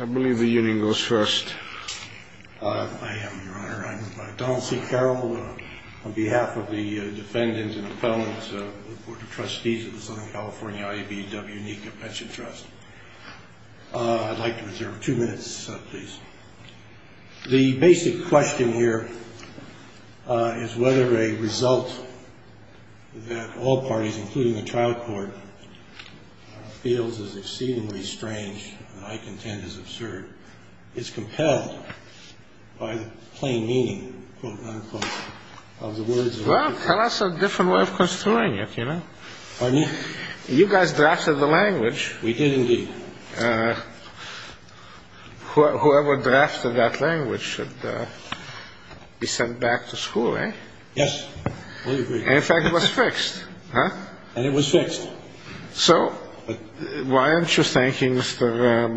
I believe the hearing goes first. I am your honor I'm Donald C. Carroll on behalf of the defendants and appellants of the Board of Trustees of the Southern California IBEW-NECA Pension Trust. I'd like to reserve two minutes please. The basic question here is whether a result that all parties including the trial court feels is exceedingly strange and I contend is absurd is compelled by the plain meaning quote unquote of the words. Well tell us a different way of construing it you know. You guys drafted the language. We did indeed. Whoever drafted that language should be sent back to Mr.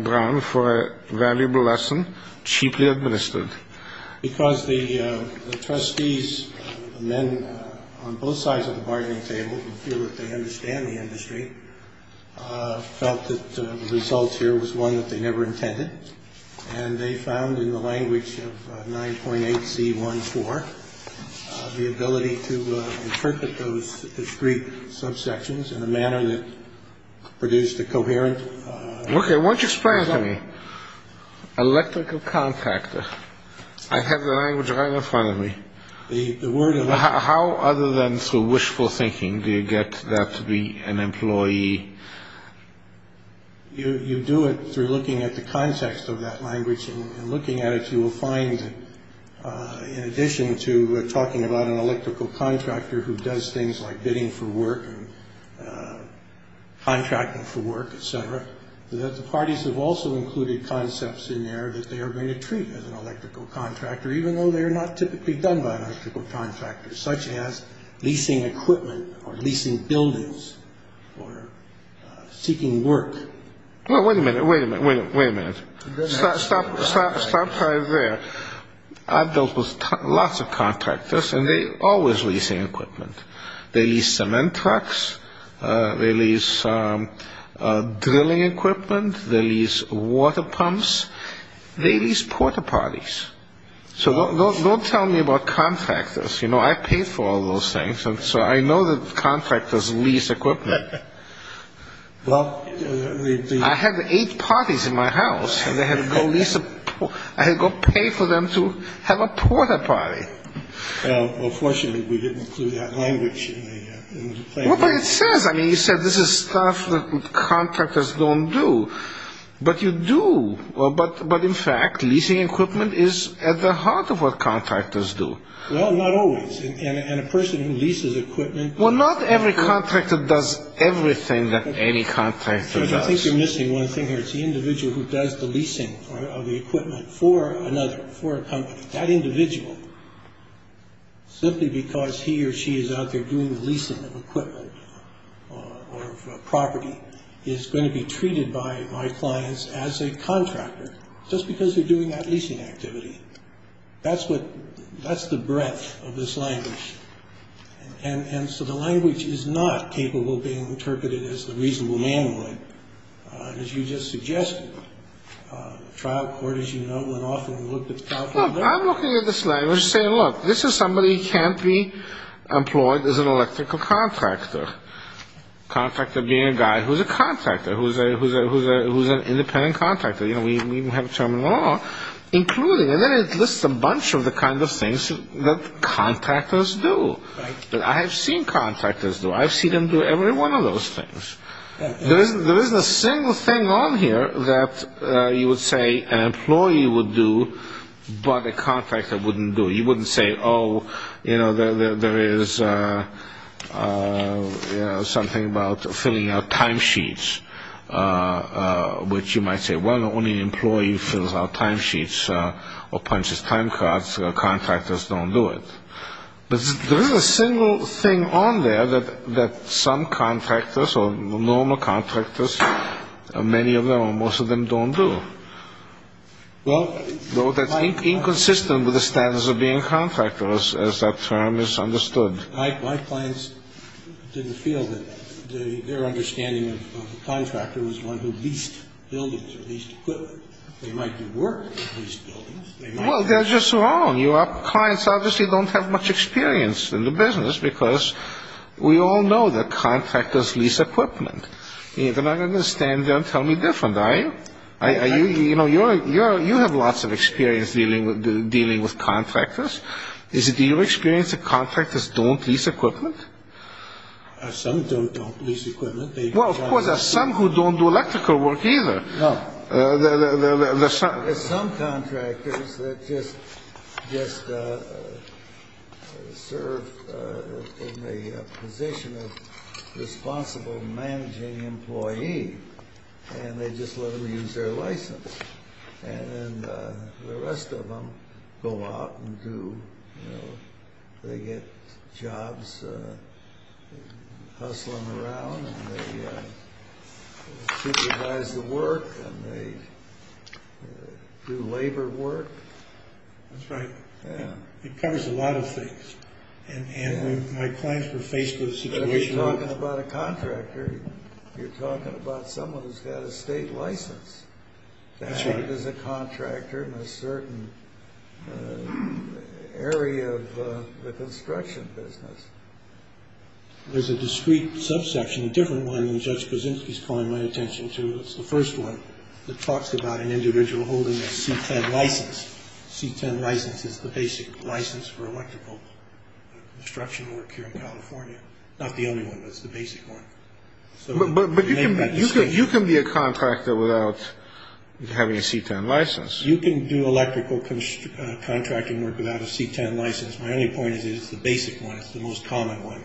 Brown for a valuable lesson. Cheaply administered. Because the trustees men on both sides of the bargaining table who feel that they understand the industry felt that the result here was one that they never intended and they found in the language of 9.8C14 the ability to interpret those discrete subsections in a manner that produced a coherent result. Okay why don't you explain it to me. Electrical contractor. I have the language right in front of me. How other than through wishful thinking do you get that to be an employee? You do it through looking at the context of that language and looking at it you will find in addition to talking about an electrical contractor who does things like bidding for work and contracting for work etc. that the parties have also included concepts in there that they are going to treat as an electrical contractor even though they are not typically done by an electrical contractor such as leasing equipment or leasing buildings or seeking work. Well wait a minute wait a minute wait a minute. I built lots of contractors and they always lease equipment. They lease cement trucks. They lease drilling equipment. They lease water pumps. They lease porta-potties. So don't tell me about contractors. You know I paid for all those things so I know that contractors lease equipment. I had eight parties in my house and I had to go pay for them to have a porta-potty. Well fortunately we didn't include that language. Well but it says. You said this is stuff that contractors don't do. But you do. But in fact leasing equipment is at the heart of what contractors do. Well not always. And a person who leases equipment. Well not every contractor does everything that any contractor does. I think you're missing one thing here. It's the individual who does the leasing of the equipment for another for a company. That individual simply because he or she is out there doing the leasing of equipment or property is going to be treated by my clients as a contractor just because they're doing that leasing activity. That's what that's the breadth of this language. And so the language is not capable of being interpreted as the reasonable man would as you just suggested. Trial court as you know went off and looked at the trial court. I'm looking at this language saying look this is somebody who can't be employed as an electrical contractor. Contractor being a guy who's a contractor. Who's a who's a who's a who's an independent contractor. You know we don't even have a term in law. Including and then it lists a bunch of the kind of things that contractors do. I have seen contractors do. I've seen them do every one of those things. There isn't a single thing on here that you would say an employee would do but a contractor wouldn't do. You wouldn't say oh there is something about filling out time sheets. Which you might say well only an employee fills out time sheets or punches time cards. Contractors don't do it. But there isn't a single thing on there that some contractors or normal contractors many of them or most of them don't do. Though that's inconsistent with the terms that are understood. My clients didn't feel that their understanding of the contractor was one who leased buildings or leased equipment. They might do work in leased buildings. Well they're just wrong. Your clients obviously don't have much experience in the business because we all know that contractors lease equipment. You're not going to stand there and tell me different are you? You know you have lots of experience dealing with contractors. Is it your experience that contractors don't lease equipment? Some don't lease equipment. Well of course there are some who don't do electrical work either. No. There are some contractors that just serve in the position of responsible managing employee and they just let them use their license. And the rest of them go out and they get jobs hustling around and they supervise the work and they do labor work. That's right. It covers a lot of things. And my clients were faced with situations. But if you're talking about a There's a discrete subsection, a different one that Judge Krasinski is calling my attention to. It's the first one that talks about an individual holding a C-10 license. C-10 license is the basic license for electrical construction work here in California. Not the only one but it's the basic one. But you can be a contractor without having a C-10 license. You can do electrical contracting work without a C-10 license. My only point is that it's the basic one. It's the most common one.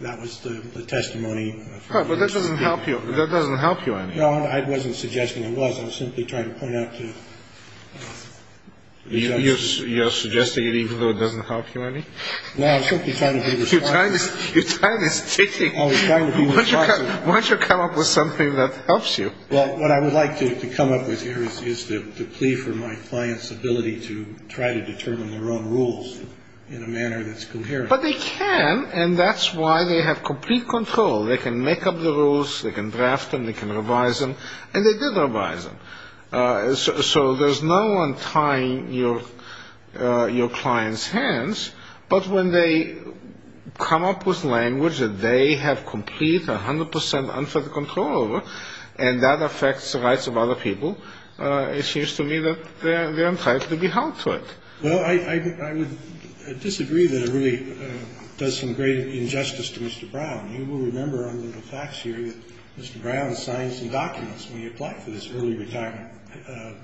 That was the testimony. But that doesn't help you any. No I wasn't suggesting it was. I was simply trying to point out to the judges. You're suggesting it even though it doesn't help you any? No I'm simply trying to be responsible. You're plea for my client's ability to try to determine their own rules in a manner that's coherent. But they can and that's why they have complete control. They can make up the rules. They can draft them. They can revise them. And they did revise them. So there's no one tying your client's hands. But when they come up with language that they have complete 100% unfettered control over and that affects the rights of other people, it seems to me that they're entitled to be held to it. Well I would disagree that it really does some great injustice to Mr. Brown. You will remember under the facts here that Mr. Brown signed some documents when he applied for this early retirement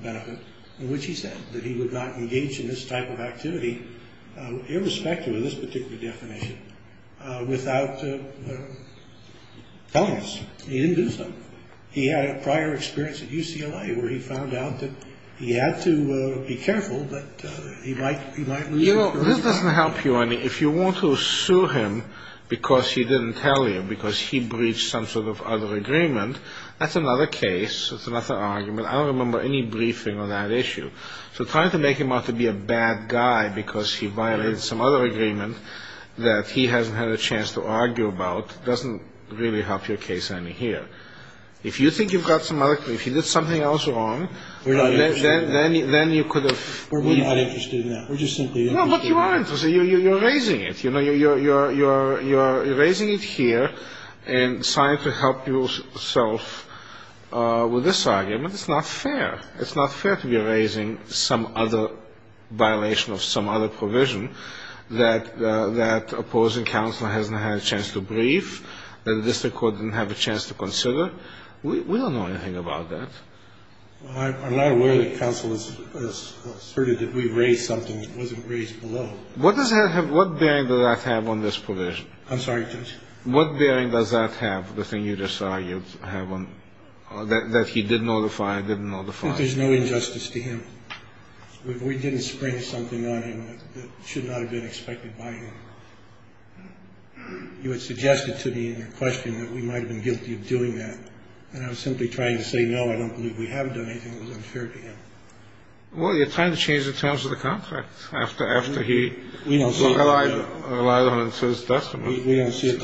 benefit in which he said that he would not engage in this type of activity irrespective of this particular definition without telling us. He didn't do where he found out that he had to be careful that he might lose his job. You know this doesn't help you any. If you want to sue him because he didn't tell you because he breached some sort of other agreement, that's another case. That's another argument. I don't remember any briefing on that issue. So trying to make him out to be a bad guy because he violated some other agreement that he hasn't had a chance to argue about doesn't really help your case any here. If you think you've got some other, if you did something else wrong, then you could have. We're not interested in that. We're just simply interested in that. raising it. You're raising it here and trying to help yourself with this argument. It's not fair. It's not fair to be raising some other violation of some other provision that opposing counsel hasn't had a chance to brief and the district court didn't have a chance to consider. We don't know anything about that. Well, I'm not aware that counsel has asserted that we've raised something that wasn't raised below. What does that have, what bearing does that have on this provision? I'm sorry, Judge. What bearing does that have, the thing you just argued have on, that he did notify, didn't notify? I think there's no injustice to him. We didn't spring something on him that should not have been expected by him. You had suggested to me in your question that we might have been guilty of doing that. And I was simply trying to say, no, I don't believe we haven't done anything that was unfair to him. Well, you're trying to change the terms of the contract after after he. We don't see it that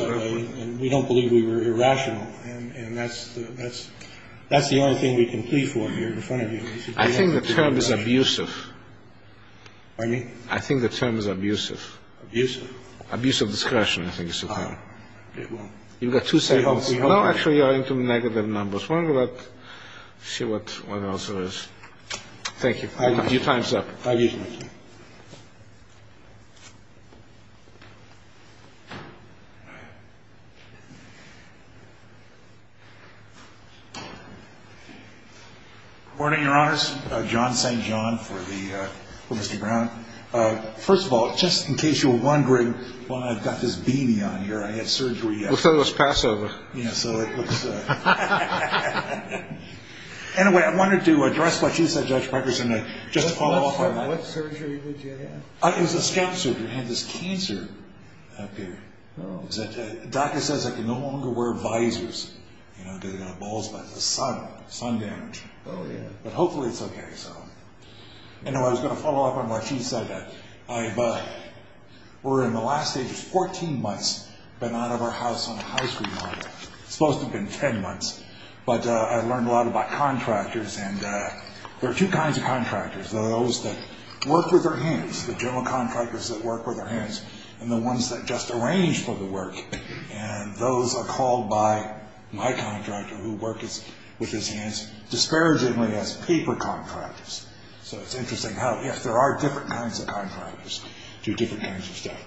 way. And we don't believe we were irrational. And that's the only thing we can plead for here in front of you. I think the term is abusive. Pardon me? I think the term is abusive. Abusive? Abusive discretion, I think is the term. All right. You've got two statements. No, actually, you're into negative numbers. Why don't we see what else there is. Thank you. Your time is up. Thank you. Good morning, Your Honors. John St. John for Mr. Brown. First of all, just in case you were wondering why I've got this beanie on here, I had surgery yesterday. Looks like it was Passover. Yeah, so it was. Anyway, I wanted to address what you said, Judge Parker, and just follow up on that. What surgery did you have? It was a scalp surgery. I had this cancer up here. Oh. The doctor says I can no longer wear visors, you know, because I've got balls, but it's the sun. Sun damage. Oh, yeah. But hopefully it's okay, so. Anyway, I was going to follow up on what you said. We're in the last 14 months been out of our house on a high-speed line. Supposed to have been 10 months, but I've learned a lot about contractors, and there are two kinds of contractors. There are those that work with their hands, the general contractors that work with their hands, and the ones that just arrange for the work, and those are called by my contractor, who works with his hands disparagingly as paper contractors. So it's interesting how, yes, there are different kinds of contractors do different kinds of stuff.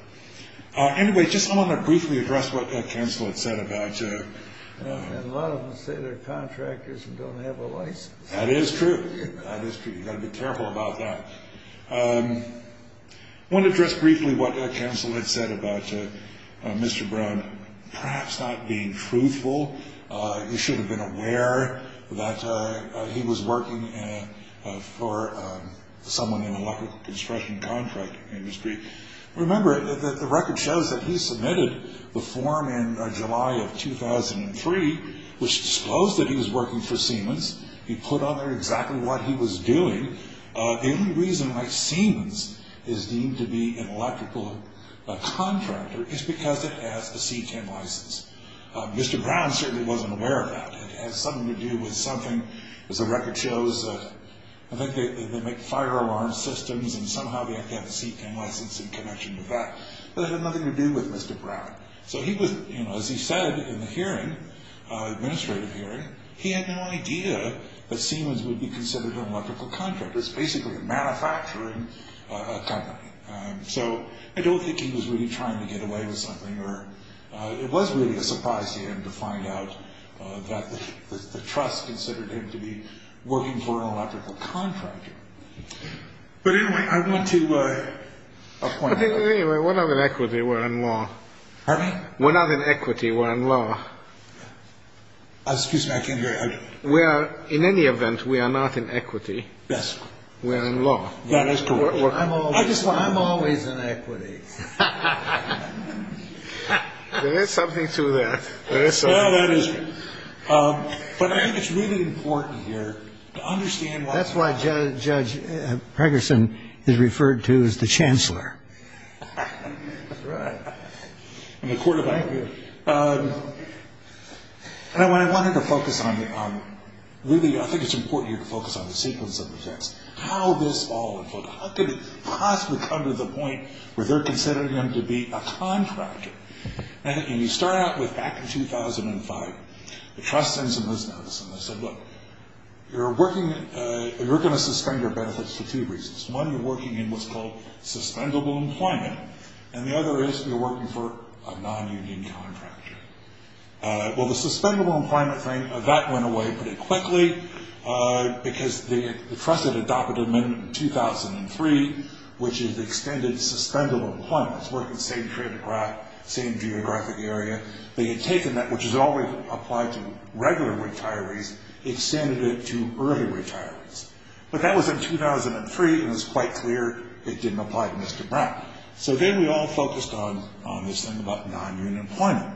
Anyway, just I want to briefly address what Council had said about. A lot of them say they're contractors and don't have a license. That is true. That is true. You've got to be careful about that. I want to address briefly what Council had said about Mr. Brown perhaps not being truthful. He should have been aware that he was working for someone in the electrical construction contract industry. Remember, the record shows that he submitted the form in July of 2003, which disclosed that he was working for Siemens. He put on there exactly what he was doing. The only reason why Siemens is deemed to be an electrical contractor is because it has a C10 license. Mr. Brown certainly wasn't aware of that. It has something to do with something, as the record shows, I think they make fire alarm systems and somehow they have a C10 license in connection with that. But it had nothing to do with Mr. Brown. So he was, as he said in the hearing, administrative hearing, he had no idea that Siemens would be considered an electrical contractor. It's basically a manufacturing company. So I don't think he was really trying to get away with something. It was really a surprise to him to find out that the trust considered him to be working for an electrical contractor. But anyway, I want to point out... But anyway, we're not in equity, we're in law. Pardon me? We're not in equity, we're in law. Excuse me, I can't hear you. We are, in any event, we are not in equity. Yes. We are in law. That is correct. I'm always in equity. There is something to that. There is something to that. No, there isn't. But I think it's really important here to understand why... That's why Judge Pregerson is referred to as the Chancellor. That's right. In the Court of Equity. And I wanted to focus on, really, I think it's important here to focus on the sequence of events. How this all unfolded. How could it possibly come to the point where they're considering him to be a contractor? And you start out with back in 2005, the trust sends him this notice. And they said, look, you're going to suspend your benefits for two reasons. One, you're working in what's called suspendable employment. And the other is you're working for a non-union contractor. Well, the suspendable employment thing, that went away pretty quickly because the trust had adopted an amendment in 2003, which is extended suspendable employment. It's working the same geographic area. They had taken that, which is always applied to regular retirees, extended it to early retirees. But that was in 2003, and it was quite clear it didn't apply to Mr. Brown. So then we all focused on this thing about non-union employment.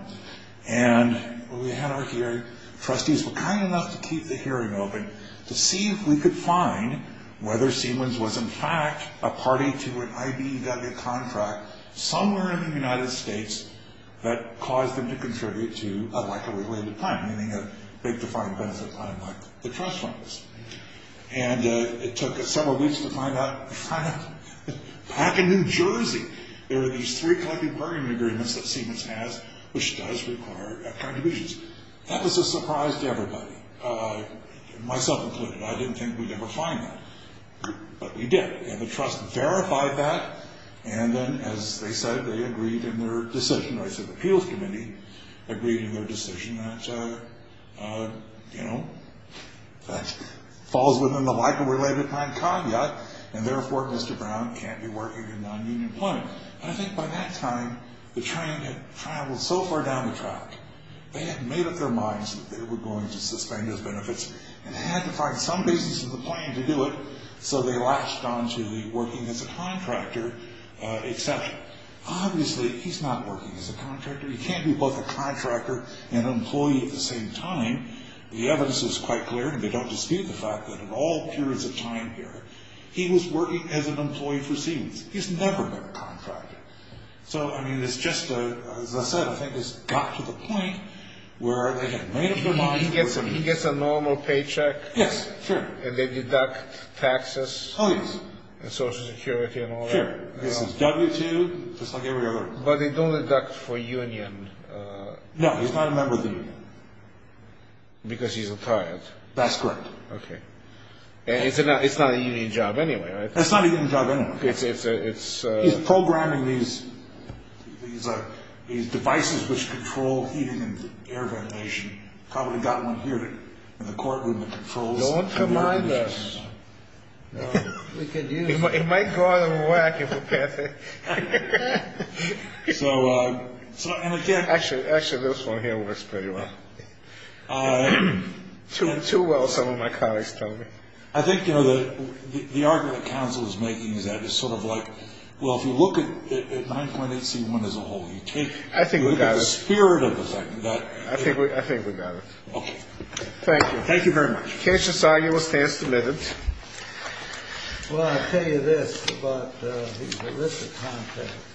And we had our hearing. Trustees were kind enough to keep the hearing open to see if we could find whether Siemens was, in fact, a party to an IBEW contract somewhere in the United States that caused them to contribute to a likelihood-related plan, meaning a big defined benefit plan like the trust funds. And it took several weeks to find out. Back in New Jersey, there were these three collective bargaining agreements that Siemens has, which does require contributions. That was a surprise to everybody, myself included. I didn't think we'd ever find that, but we did. And the trust verified that, and then, as they said, they agreed in their decision. I said the appeals committee agreed in their decision that, you know, that falls within the likelihood-related plan con yet, and therefore Mr. Brown can't be working in non-union employment. And I think by that time, the train had traveled so far down the track, they had made up their minds that they were going to suspend his benefits and had to find some basis in the plan to do it, so they latched on to the working as a contractor exception. Obviously, he's not working as a contractor. He can't be both a contractor and an employee at the same time. The evidence is quite clear, and they don't dispute the fact that in all periods of time here, he was working as an employee for Siemens. He's never been a contractor. So, I mean, it's just, as I said, I think it's got to the point where they had made up their minds. He gets a normal paycheck. Yes, sure. And they deduct taxes. Oh, yes. And Social Security and all that. Sure. This is W-2, just like every other. But they don't deduct for union. No, he's not a member of the union. Because he's retired. That's correct. Okay. And it's not a union job anyway, right? It's not a union job anyway. He's programming these devices which control heating and air ventilation. Probably got one here in the courtroom that controls air ventilation. Don't combine those. No, we could use them. It might go out of whack if we pass it. So, and again. Actually, this one here works pretty well. Too well, some of my colleagues tell me. I think, you know, the argument that counsel is making is that it's sort of like, well, if you look at 9.8C1 as a whole. I think we got it. You take the spirit of the thing. I think we got it. Okay. Thank you. Thank you very much. The case is signed. You will stand submitted. Well, I'll tell you this about the list of contents.